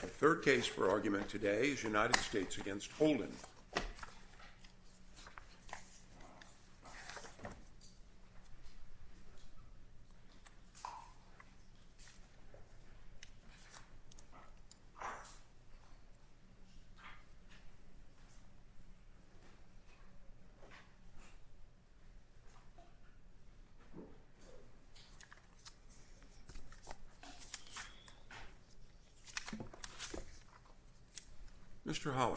The third case for argument today is United States v. Holden. Mr. Holler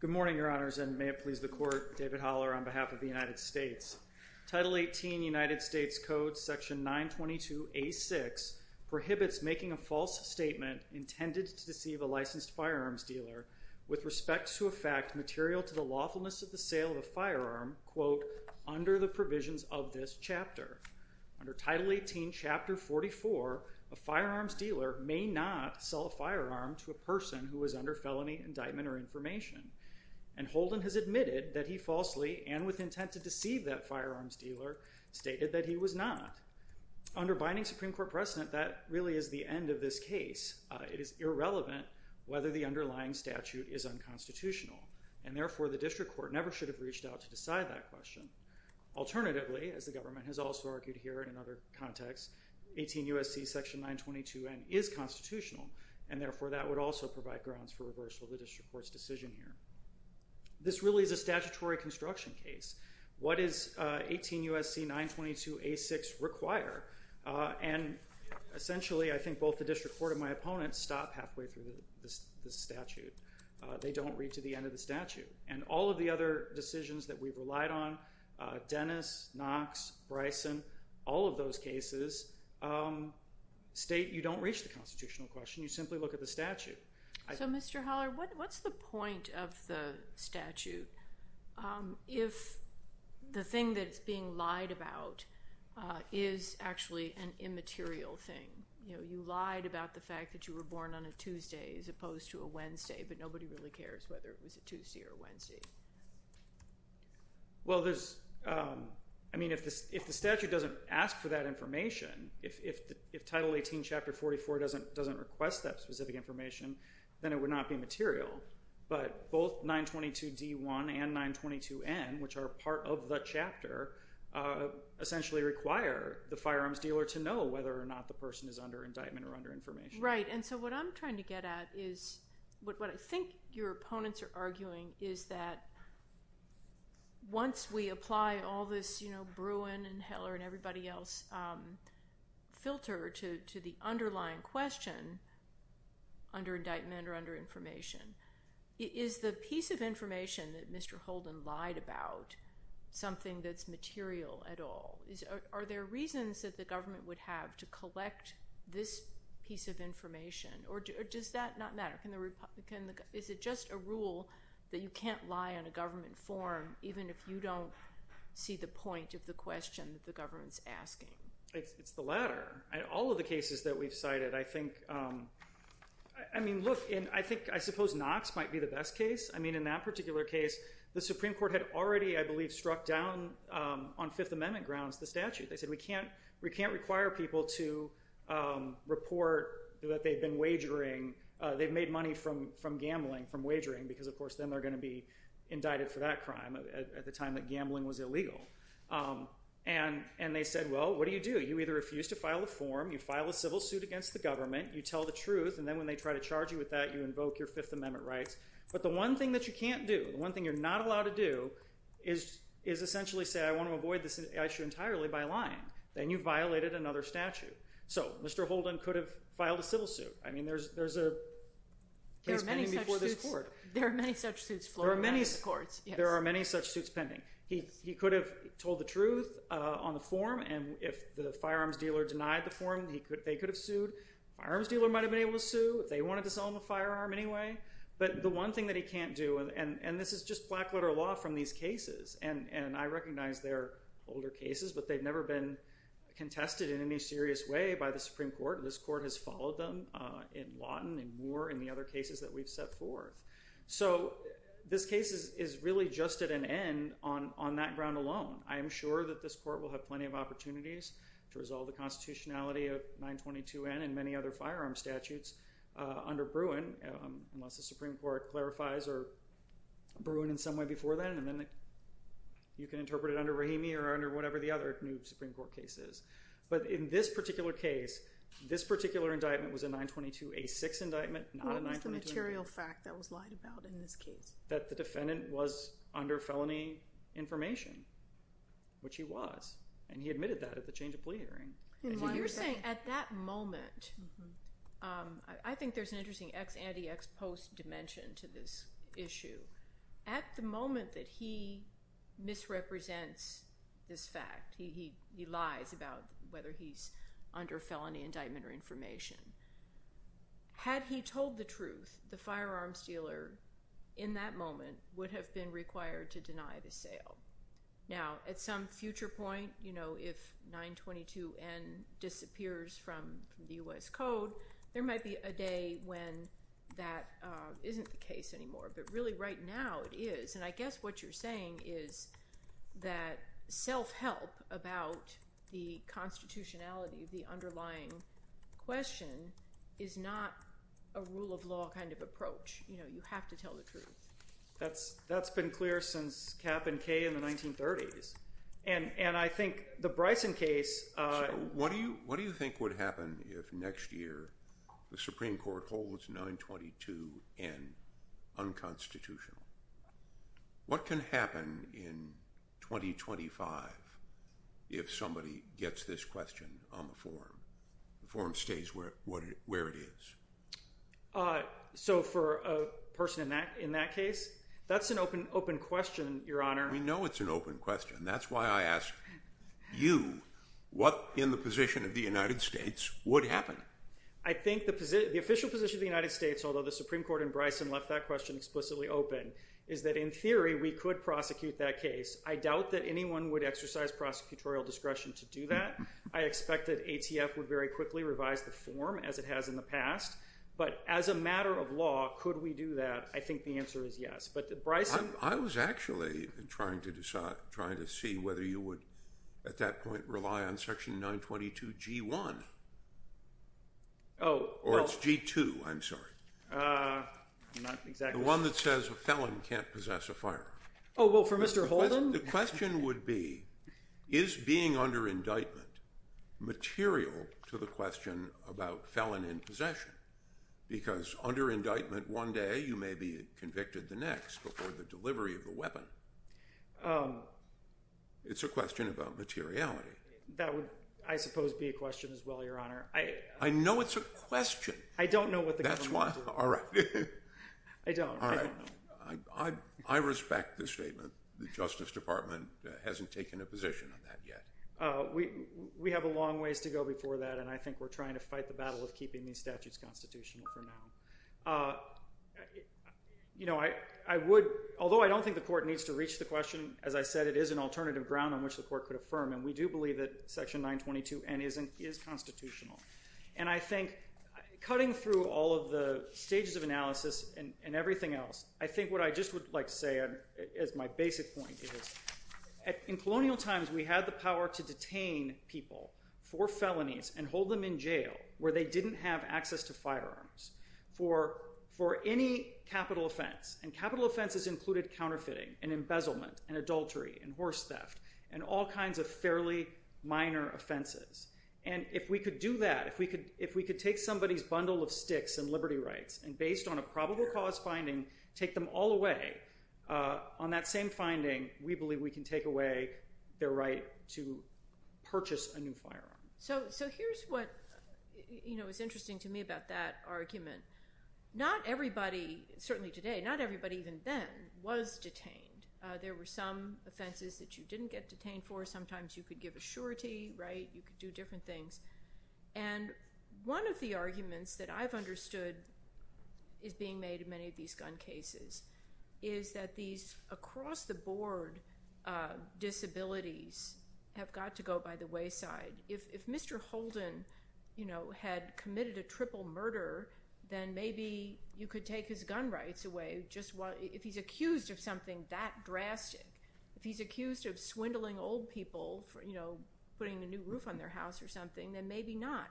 Good morning, Your Honors, and may it please the Court, David Holler on behalf of the United States. Title 18 United States Code section 922A6 prohibits making a false statement intended to deceive a licensed firearms dealer with respect to a fact material to the lawfulness of the sale of a firearm, quote, under the provisions of this chapter. Under Title 18 Chapter 44, a firearms dealer may not sell a firearm to a person who is under felony indictment or information, and Holden has admitted that he falsely and with intent to deceive that firearms dealer stated that he was not. Under binding Supreme Court precedent, that really is the end of this case. It is irrelevant whether the underlying statute is unconstitutional, and therefore the district court never should have reached out to decide that question. Alternatively, as the government has also argued here in other contexts, 18 U.S.C. section 922N is constitutional, and therefore that would also provide grounds for reversal of the district court's decision here. This really is a statutory construction case. What does 18 U.S.C. 922A6 require? And essentially I think both the district court and my opponents stop halfway through the statute. They don't read to the end of the statute. And all of the other decisions that we've relied on, Dennis, Knox, Bryson, all of those cases state you don't reach the constitutional question. You simply look at the statute. So, Mr. Holler, what's the point of the statute if the thing that it's being lied about is actually an immaterial thing? You know, you lied about the fact that you were born on a Tuesday as opposed to a Wednesday, but nobody really cares whether it was a Tuesday or a Wednesday. Well, there's – I mean, if the statute doesn't ask for that information, if Title 18, Chapter 44 doesn't request that specific information, then it would not be material. But both 922D1 and 922N, which are part of the chapter, essentially require the firearms dealer to know whether or not the person is under indictment or under information. Right, and so what I'm trying to get at is what I think your opponents are arguing is that once we apply all this, you know, Bruin and Heller and everybody else filter to the underlying question, under indictment or under information, is the piece of information that Mr. Holden lied about something that's material at all? Are there reasons that the government would have to collect this piece of information, or does that not matter? Is it just a rule that you can't lie on a government form even if you don't see the point of the question that the government's asking? It's the latter. All of the cases that we've cited, I think – I mean, look, I suppose Knox might be the best case. I mean, in that particular case, the Supreme Court had already, I believe, struck down on Fifth Amendment grounds the statute. They said we can't require people to report that they've been wagering – they've made money from gambling, from wagering, because, of course, then they're going to be indicted for that crime at the time that gambling was illegal. And they said, well, what do you do? You either refuse to file a form, you file a civil suit against the government, you tell the truth, and then when they try to charge you with that, you invoke your Fifth Amendment rights. But the one thing that you can't do, the one thing you're not allowed to do is essentially say, I want to avoid this issue entirely by lying. Then you've violated another statute. So Mr. Holden could have filed a civil suit. I mean, there's a case pending before this court. There are many such suits floored by the courts. There are many such suits pending. He could have told the truth on the form, and if the firearms dealer denied the form, they could have sued. The firearms dealer might have been able to sue if they wanted to sell him a firearm anyway. But the one thing that he can't do – and this is just black-letter law from these cases, and I recognize they're older cases, but they've never been contested in any serious way by the Supreme Court. This court has followed them in Lawton and more in the other cases that we've set forth. So this case is really just at an end on that ground alone. I am sure that this court will have plenty of opportunities to resolve the constitutionality of 922N and many other firearm statutes under Bruin, unless the Supreme Court clarifies, or Bruin in some way before then, and then you can interpret it under Rahimi or under whatever the other new Supreme Court case is. But in this particular case, this particular indictment was a 922A6 indictment, not a 922… A material fact that was lied about in this case. …that the defendant was under felony information, which he was, and he admitted that at the change of plea hearing. You're saying at that moment – I think there's an interesting ex-ante, ex-post dimension to this issue. At the moment that he misrepresents this fact, he lies about whether he's under felony indictment or information, had he told the truth, the firearms dealer in that moment would have been required to deny the sale. Now, at some future point, you know, if 922N disappears from the U.S. Code, there might be a day when that isn't the case anymore, but really right now it is. And I guess what you're saying is that self-help about the constitutionality of the underlying question is not a rule of law kind of approach. You know, you have to tell the truth. That's been clear since Kapp and Kaye in the 1930s. And I think the Bryson case… What do you think would happen if next year the Supreme Court holds 922N unconstitutional? What can happen in 2025 if somebody gets this question on the forum? The forum stays where it is. So for a person in that case, that's an open question, Your Honor. We know it's an open question. And that's why I ask you, what in the position of the United States would happen? I think the official position of the United States, although the Supreme Court and Bryson left that question explicitly open, is that in theory we could prosecute that case. I doubt that anyone would exercise prosecutorial discretion to do that. I expect that ATF would very quickly revise the form as it has in the past. But as a matter of law, could we do that? I think the answer is yes. I was actually trying to see whether you would at that point rely on Section 922G1. Or it's G2, I'm sorry. The one that says a felon can't possess a firearm. Oh, well, for Mr. Holden? The question would be, is being under indictment material to the question about felon in possession? Because under indictment one day you may be convicted the next before the delivery of the weapon. It's a question about materiality. That would, I suppose, be a question as well, Your Honor. I know it's a question. I don't know what the government would do. All right. I don't. All right. I respect the statement. The Justice Department hasn't taken a position on that yet. We have a long ways to go before that. And I think we're trying to fight the battle of keeping these statutes constitutional for now. You know, I would, although I don't think the court needs to reach the question, as I said, it is an alternative ground on which the court could affirm. And we do believe that Section 922N is constitutional. And I think cutting through all of the stages of analysis and everything else, I think what I just would like to say as my basic point is, in colonial times we had the power to detain people for felonies and hold them in jail where they didn't have access to firearms for any capital offense. And capital offenses included counterfeiting and embezzlement and adultery and horse theft and all kinds of fairly minor offenses. And if we could do that, if we could take somebody's bundle of sticks and liberty rights and based on a probable cause finding, take them all away, on that same finding, we believe we can take away their right to purchase a new firearm. So here's what, you know, is interesting to me about that argument. Not everybody, certainly today, not everybody even then was detained. There were some offenses that you didn't get detained for. Sometimes you could give a surety, right? You could do different things. And one of the arguments that I've understood is being made in many of these gun cases is that these across-the-board disabilities have got to go by the wayside. If Mr. Holden, you know, had committed a triple murder, then maybe you could take his gun rights away just while – if he's accused of something that drastic. If he's accused of swindling old people, you know, putting a new roof on their house or something, then maybe not.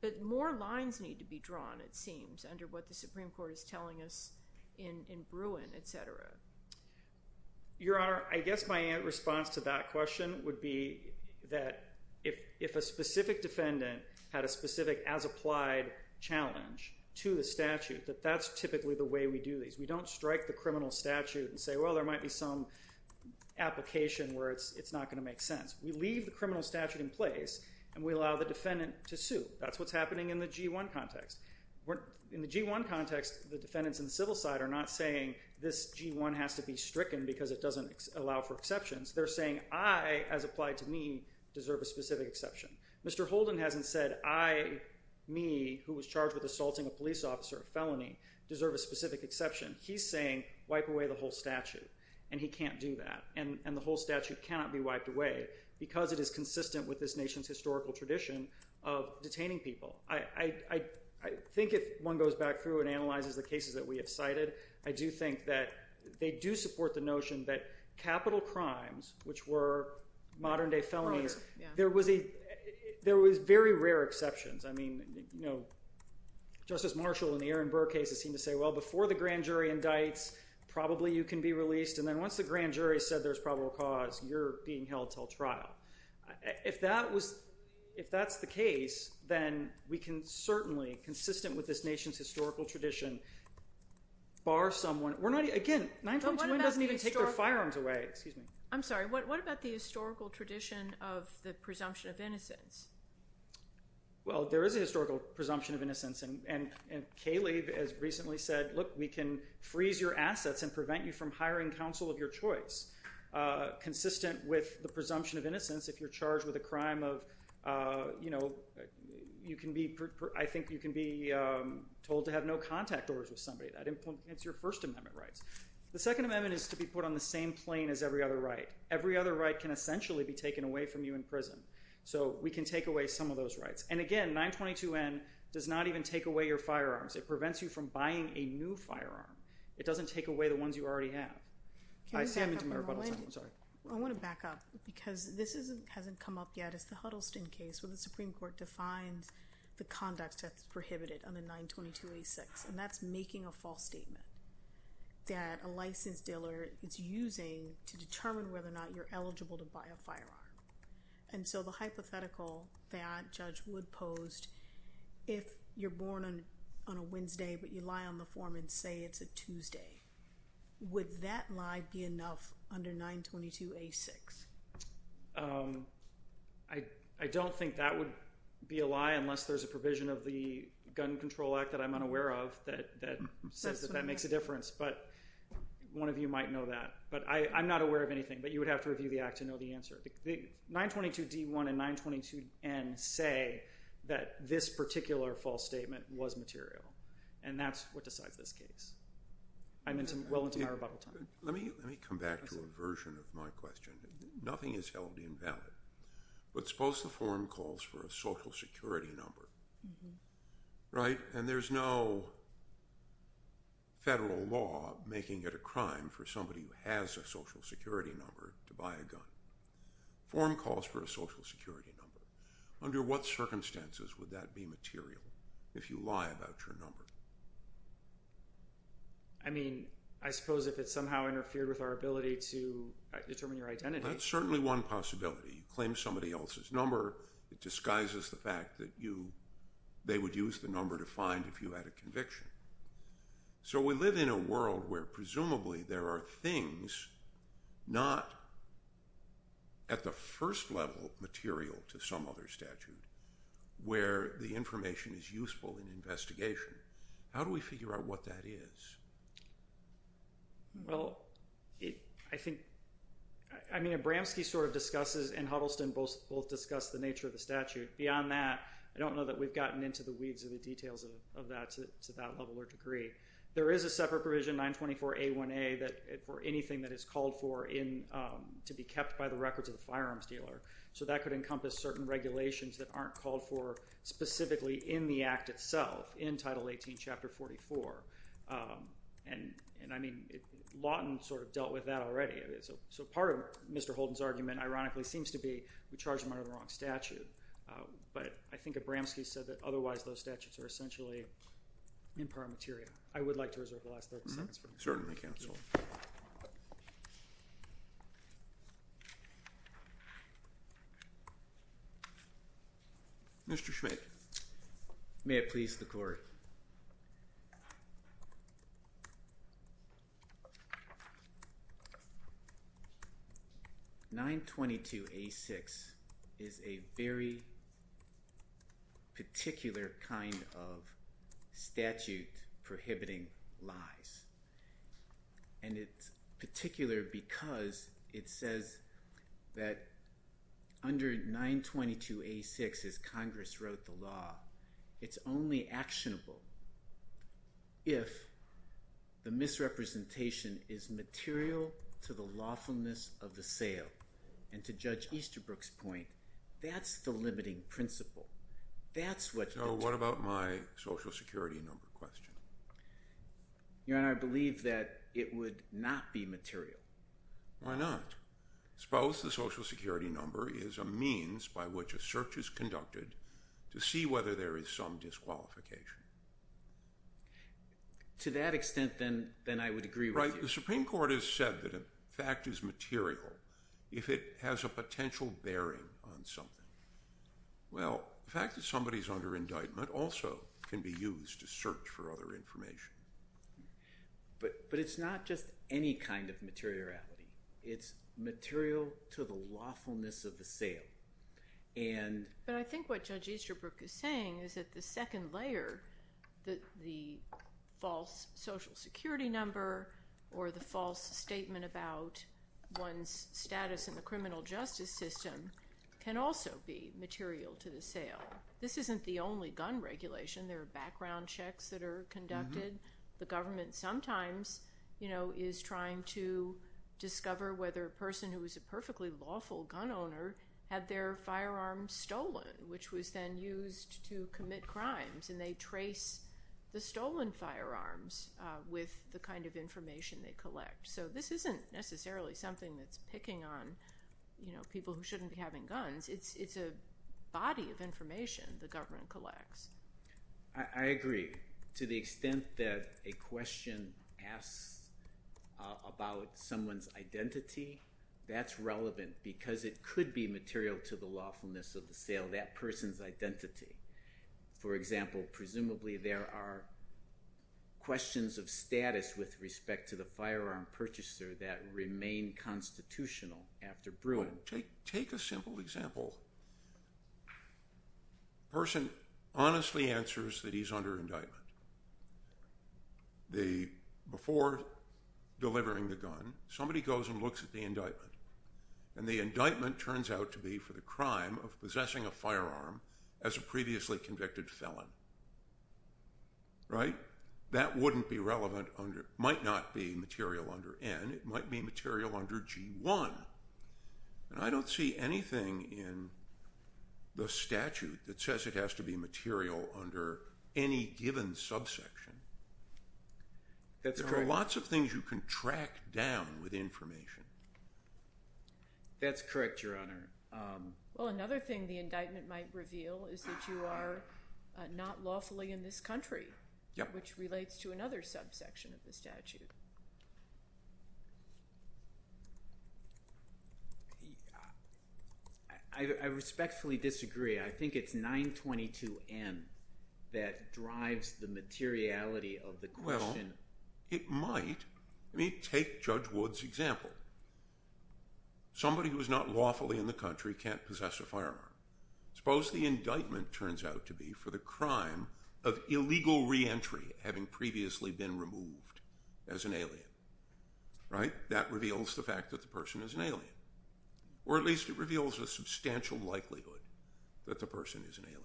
But more lines need to be drawn, it seems, under what the Supreme Court is telling us in Bruin, et cetera. Your Honor, I guess my response to that question would be that if a specific defendant had a specific as-applied challenge to the statute, that that's typically the way we do these. We don't strike the criminal statute and say, well, there might be some application where it's not going to make sense. We leave the criminal statute in place and we allow the defendant to sue. That's what's happening in the G1 context. In the G1 context, the defendants in the civil side are not saying this G1 has to be stricken because it doesn't allow for exceptions. They're saying I, as applied to me, deserve a specific exception. Mr. Holden hasn't said I, me, who was charged with assaulting a police officer, a felony, deserve a specific exception. He's saying wipe away the whole statute, and he can't do that. And the whole statute cannot be wiped away because it is consistent with this nation's historical tradition of detaining people. I think if one goes back through and analyzes the cases that we have cited, I do think that they do support the notion that capital crimes, which were modern-day felonies, there was very rare exceptions. I mean, you know, Justice Marshall in the Aaron Burr case has seemed to say, well, before the grand jury indicts, probably you can be released. And then once the grand jury said there's probably a cause, you're being held until trial. If that's the case, then we can certainly, consistent with this nation's historical tradition, bar someone. Again, 921 doesn't even take their firearms away. I'm sorry. What about the historical tradition of the presumption of innocence? Well, there is a historical presumption of innocence. And Kalev has recently said, look, we can freeze your assets and prevent you from hiring counsel of your choice. Consistent with the presumption of innocence, if you're charged with a crime of, you know, I think you can be told to have no contact orders with somebody. That implements your First Amendment rights. The Second Amendment is to be put on the same plane as every other right. Every other right can essentially be taken away from you in prison. So we can take away some of those rights. And again, 922N does not even take away your firearms. It prevents you from buying a new firearm. It doesn't take away the ones you already have. I'm sorry. I want to back up because this hasn't come up yet. It's the Huddleston case where the Supreme Court defines the conduct that's prohibited under 922A6. And that's making a false statement that a licensed dealer is using to determine whether or not you're eligible to buy a firearm. And so the hypothetical that Judge Wood posed, if you're born on a Wednesday but you lie on the form and say it's a Tuesday, would that lie be enough under 922A6? I don't think that would be a lie unless there's a provision of the Gun Control Act that I'm unaware of that says that that makes a difference. But one of you might know that. But I'm not aware of anything. But you would have to review the act to know the answer. 922D1 and 922N say that this particular false statement was material. And that's what decides this case. I'm well into my rebuttal time. Let me come back to a version of my question. Nothing is held invalid. But suppose the forum calls for a social security number, right? And there's no federal law making it a crime for somebody who has a social security number to buy a gun. Forum calls for a social security number. Under what circumstances would that be material if you lie about your number? I mean, I suppose if it somehow interfered with our ability to determine your identity. That's certainly one possibility. You claim somebody else's number. It disguises the fact that they would use the number to find if you had a conviction. So we live in a world where presumably there are things not at the first level material to some other statute where the information is useful in investigation. How do we figure out what that is? Well, I mean, Abramski sort of discusses and Huddleston both discuss the nature of the statute. Beyond that, I don't know that we've gotten into the weeds of the details of that to that level or degree. There is a separate provision, 924A1A, for anything that is called for to be kept by the records of the firearms dealer. So that could encompass certain regulations that aren't called for specifically in the act itself in Title 18, Chapter 44. And I mean, Lawton sort of dealt with that already. So part of Mr. Holden's argument ironically seems to be we charged him under the wrong statute. But I think Abramski said that otherwise those statutes are essentially in part material. I would like to reserve the last 30 seconds. Certainly, counsel. Mr. Schmidt. May it please the court. 922A6 is a very particular kind of statute prohibiting lies. And it's particular because it says that under 922A6, as Congress wrote the law, it's only actionable if the misrepresentation is material to the lawfulness of the sale. And to Judge Easterbrook's point, that's the limiting principle. So what about my Social Security number question? Your Honor, I believe that it would not be material. Why not? Suppose the Social Security number is a means by which a search is conducted to see whether there is some disqualification. To that extent, then I would agree with you. Right. The Supreme Court has said that a fact is material if it has a potential bearing on something. Well, the fact that somebody is under indictment also can be used to search for other information. But it's not just any kind of materiality. It's material to the lawfulness of the sale. But I think what Judge Easterbrook is saying is that the second layer, the false Social Security number or the false statement about one's status in the criminal justice system, can also be material to the sale. This isn't the only gun regulation. There are background checks that are conducted. The government sometimes is trying to discover whether a person who is a perfectly lawful gun owner had their firearm stolen, which was then used to commit crimes. And they trace the stolen firearms with the kind of information they collect. So this isn't necessarily something that's picking on people who shouldn't be having guns. It's a body of information the government collects. I agree. To the extent that a question asks about someone's identity, that's relevant because it could be material to the lawfulness of the sale, that person's identity. For example, presumably there are questions of status with respect to the firearm purchaser that remain constitutional after brewing. Take a simple example. A person honestly answers that he's under indictment. Before delivering the gun, somebody goes and looks at the indictment. And the indictment turns out to be for the crime of possessing a firearm as a previously convicted felon. Right? That wouldn't be relevant. It might not be material under N. It might be material under G1. And I don't see anything in the statute that says it has to be material under any given subsection. That's correct. There are lots of things you can track down with information. That's correct, Your Honor. Well, another thing the indictment might reveal is that you are not lawfully in this country, which relates to another subsection of the statute. I respectfully disagree. I think it's 922N that drives the materiality of the question. Well, it might. Take Judge Wood's example. Somebody who is not lawfully in the country can't possess a firearm. Suppose the indictment turns out to be for the crime of illegal reentry having previously been removed as an alien. Right? That reveals the fact that the person is an alien. Or at least it reveals a substantial likelihood that the person is an alien.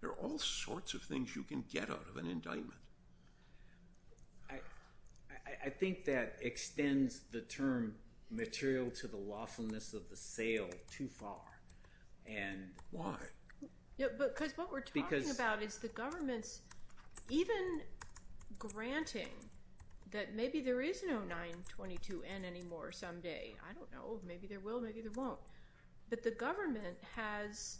There are all sorts of things you can get out of an indictment. I think that extends the term material to the lawfulness of the sale too far. Why? Because what we're talking about is the government's even granting that maybe there is no 922N anymore someday. I don't know. Maybe there will. Maybe there won't. But the government has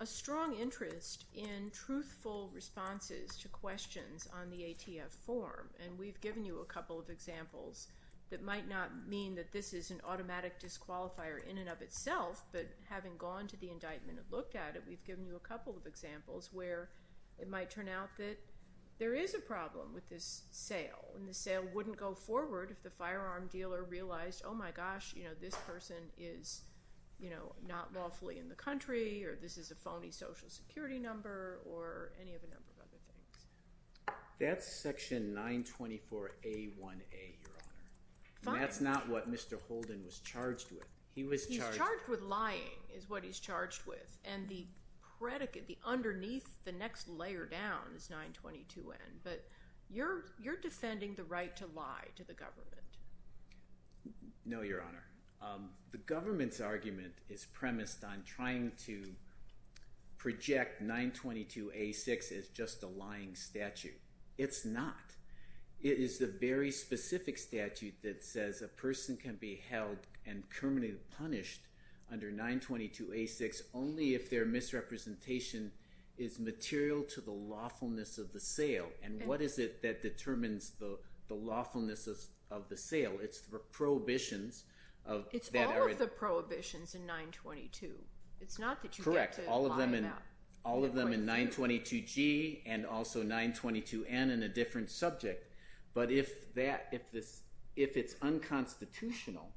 a strong interest in truthful responses to questions on the ATF form. And we've given you a couple of examples that might not mean that this is an automatic disqualifier in and of itself. But having gone to the indictment and looked at it, we've given you a couple of examples where it might turn out that there is a problem with this sale. And the sale wouldn't go forward if the firearm dealer realized, oh my gosh, this person is not lawfully in the country. Or this is a phony social security number. Or any of a number of other things. That's section 924A1A, Your Honor. And that's not what Mr. Holden was charged with. He was charged with lying is what he's charged with. And the predicate, the underneath, the next layer down is 922N. But you're defending the right to lie to the government. No, Your Honor. The government's argument is premised on trying to project 922A6 as just a lying statute. It's not. It is the very specific statute that says a person can be held and permanently punished under 922A6 only if their misrepresentation is material to the lawfulness of the sale. And what is it that determines the lawfulness of the sale? It's the prohibitions. It's all of the prohibitions in 922. Correct. All of them in 922G and also 922N in a different subject. But if it's unconstitutional,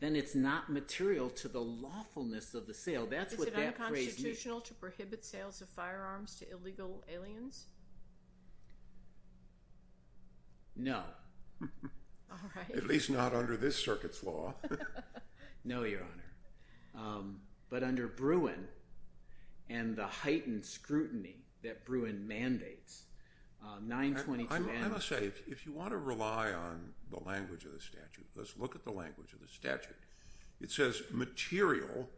then it's not material to the lawfulness of the sale. That's what that phrase means. Is it unconstitutional to prohibit sales of firearms to illegal aliens? No. All right. At least not under this circuit's law. No, Your Honor. But under Bruin and the heightened scrutiny that Bruin mandates, 922N— I must say, if you want to rely on the language of the statute, let's look at the language of the statute. It says material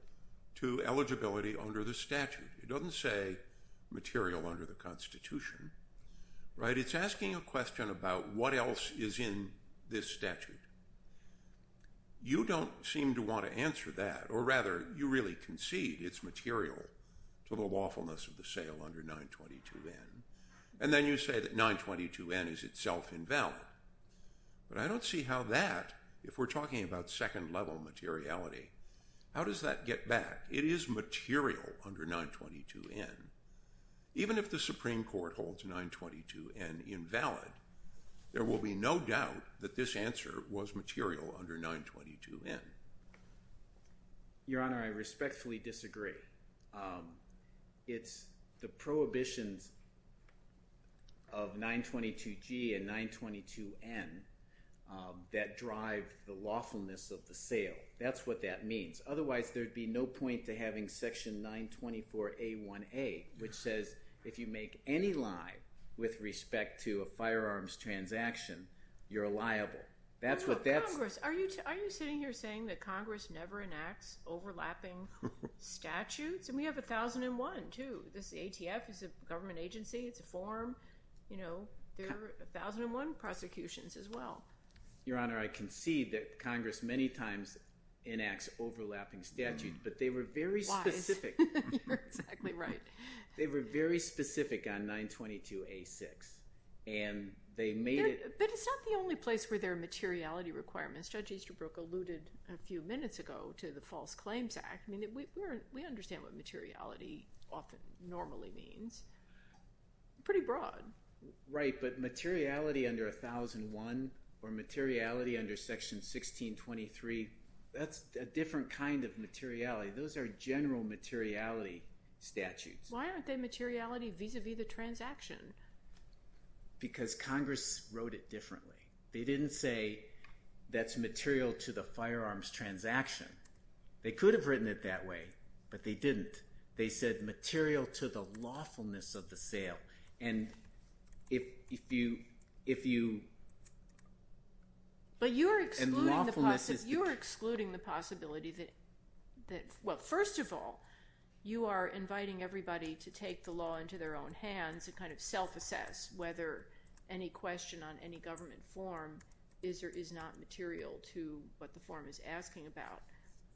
to eligibility under the statute. It doesn't say material under the Constitution, right? It's asking a question about what else is in this statute. You don't seem to want to answer that. Or rather, you really concede it's material to the lawfulness of the sale under 922N. And then you say that 922N is itself invalid. But I don't see how that, if we're talking about second-level materiality, how does that get back? It is material under 922N. Even if the Supreme Court holds 922N invalid, there will be no doubt that this answer was material under 922N. Your Honor, I respectfully disagree. It's the prohibitions of 922G and 922N that drive the lawfulness of the sale. That's what that means. Otherwise, there would be no point to having Section 924A1A, which says if you make any lie with respect to a firearms transaction, you're liable. No, Congress, are you sitting here saying that Congress never enacts overlapping statutes? And we have 1001 too. This ATF is a government agency. It's a form. There are 1001 prosecutions as well. Your Honor, I concede that Congress many times enacts overlapping statutes, but they were very specific. Why? You're exactly right. They were very specific on 922A6, and they made it— But it's not the only place where there are materiality requirements. Judge Easterbrook alluded a few minutes ago to the False Claims Act. We understand what materiality often normally means. Pretty broad. Right, but materiality under 1001 or materiality under Section 1623, that's a different kind of materiality. Those are general materiality statutes. Why aren't they materiality vis-à-vis the transaction? Because Congress wrote it differently. They didn't say that's material to the firearms transaction. They could have written it that way, but they didn't. They said material to the lawfulness of the sale, and if you— But you're excluding the possibility that—well, first of all, you are inviting everybody to take the law into their own hands and kind of self-assess whether any question on any government form is or is not material to what the form is asking about.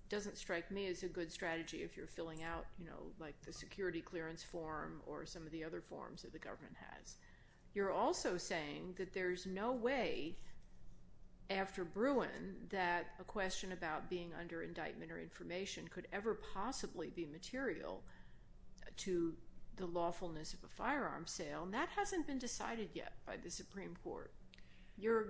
It doesn't strike me as a good strategy if you're filling out, you know, like the security clearance form or some of the other forms that the government has. You're also saying that there's no way after Bruin that a question about being under indictment or information could ever possibly be material to the lawfulness of a firearms sale, and that hasn't been decided yet by the Supreme Court. You're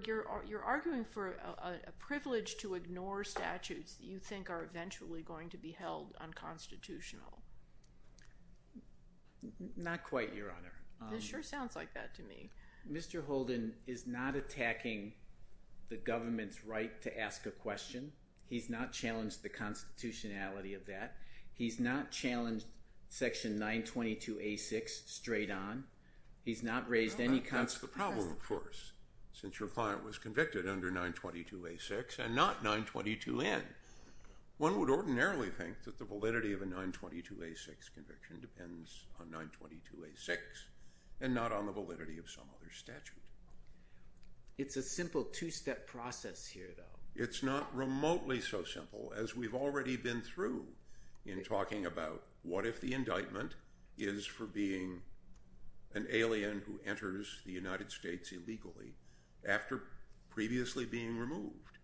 arguing for a privilege to ignore statutes that you think are eventually going to be held unconstitutional. Not quite, Your Honor. This sure sounds like that to me. Mr. Holden is not attacking the government's right to ask a question. He's not challenged the constitutionality of that. He's not challenged Section 922A6 straight on. That's the problem, of course, since your client was convicted under 922A6 and not 922N. One would ordinarily think that the validity of a 922A6 conviction depends on 922A6 and not on the validity of some other statute. It's a simple two-step process here, though. It's not remotely so simple as we've already been through in talking about what if the indictment is for being an alien who enters the United States illegally after previously being removed.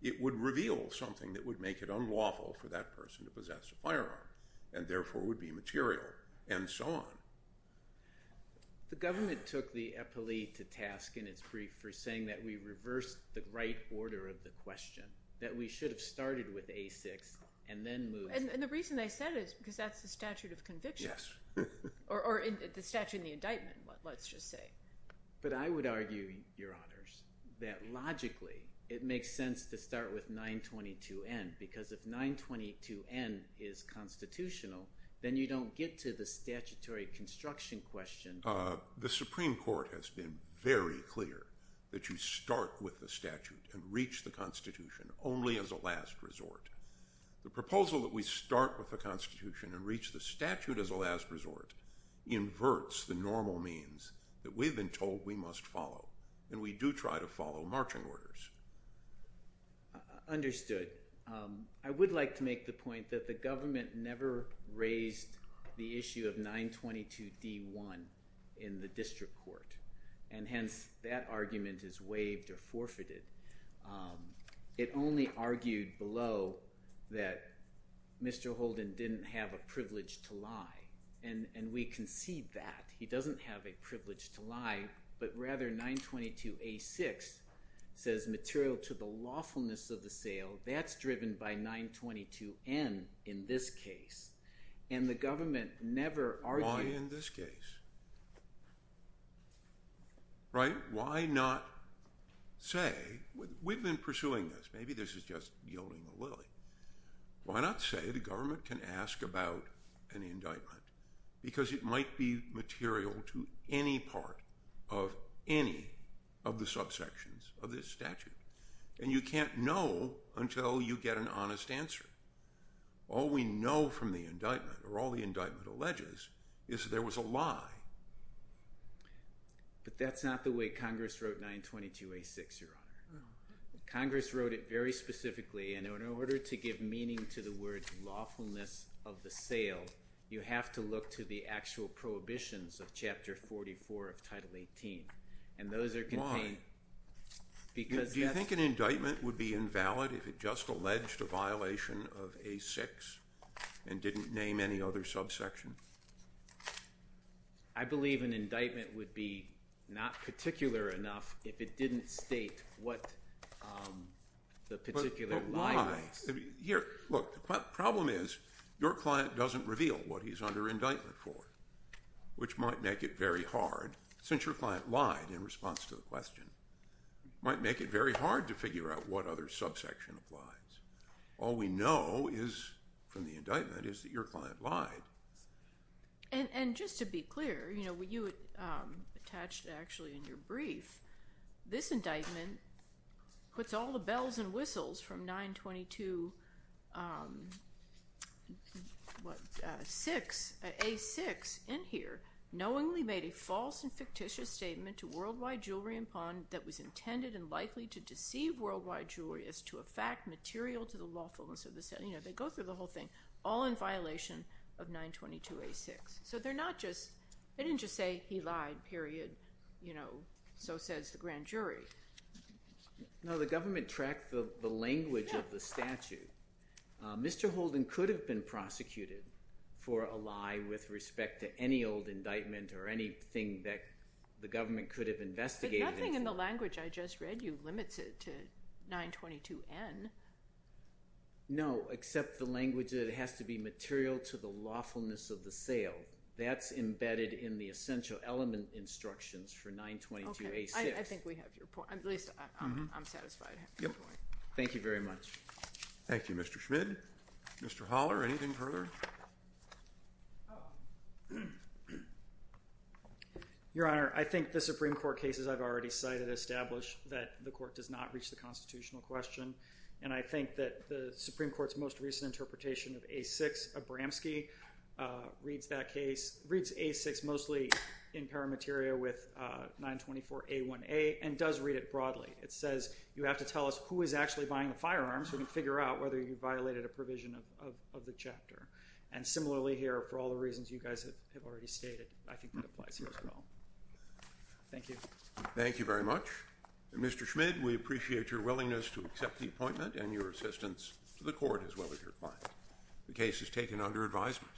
It would reveal something that would make it unlawful for that person to possess a firearm and therefore would be material and so on. The government took the epilee to task in its brief for saying that we reversed the right order of the question, that we should have started with A6 and then moved— And the reason they said it is because that's the statute of conviction. Yes. Or the statute in the indictment, let's just say. But I would argue, Your Honors, that logically it makes sense to start with 922N because if 922N is constitutional, then you don't get to the statutory construction question. The Supreme Court has been very clear that you start with the statute and reach the Constitution only as a last resort. The proposal that we start with the Constitution and reach the statute as a last resort inverts the normal means that we've been told we must follow, and we do try to follow marching orders. Understood. I would like to make the point that the government never raised the issue of 922D1 in the district court, and hence that argument is waived or forfeited. It only argued below that Mr. Holden didn't have a privilege to lie, and we concede that. He doesn't have a privilege to lie, but rather 922A6 says material to the lawfulness of the sale. That's driven by 922N in this case, and the government never argued— Why in this case? Right? Why not say—we've been pursuing this. Maybe this is just yielding a lily. Why not say the government can ask about an indictment because it might be material to any part of any of the subsections of this statute, and you can't know until you get an honest answer. All we know from the indictment or all the indictment alleges is that there was a lie. But that's not the way Congress wrote 922A6, Your Honor. Congress wrote it very specifically, and in order to give meaning to the word lawfulness of the sale, you have to look to the actual prohibitions of Chapter 44 of Title 18, and those are contained— Because that's— Do you think an indictment would be invalid if it just alleged a violation of A6 and didn't name any other subsection? I believe an indictment would be not particular enough if it didn't state what the particular— But why? Here, look, the problem is your client doesn't reveal what he's under indictment for, which might make it very hard, since your client lied in response to the question. It might make it very hard to figure out what other subsection applies. All we know from the indictment is that your client lied. And just to be clear, you know, you attached actually in your brief, this indictment puts all the bells and whistles from 922A6 in here. Knowingly made a false and fictitious statement to Worldwide Jewelry & Pawn that was intended and likely to deceive Worldwide Jewelry as to a fact material to the lawfulness of the sale. You know, they go through the whole thing, all in violation of 922A6. So they're not just—they didn't just say he lied, period. You know, so says the grand jury. No, the government tracked the language of the statute. Mr. Holden could have been prosecuted for a lie with respect to any old indictment or anything that the government could have investigated. But nothing in the language I just read you limits it to 922N. No, except the language that it has to be material to the lawfulness of the sale. That's embedded in the essential element instructions for 922A6. Okay, I think we have your point. At least I'm satisfied. Thank you very much. Thank you, Mr. Schmidt. Mr. Holler, anything further? Your Honor, I think the Supreme Court cases I've already cited establish that the court does not reach the constitutional question. And I think that the Supreme Court's most recent interpretation of A6, Abramski, reads that case— reads A6 mostly in paramateria with 924A1A and does read it broadly. It says you have to tell us who is actually buying the firearms so we can figure out whether you violated a provision of the chapter. And similarly here, for all the reasons you guys have already stated, I think it applies here as well. Thank you. Thank you very much. Mr. Schmidt, we appreciate your willingness to accept the appointment and your assistance to the court as well as your client. The case is taken under advisement.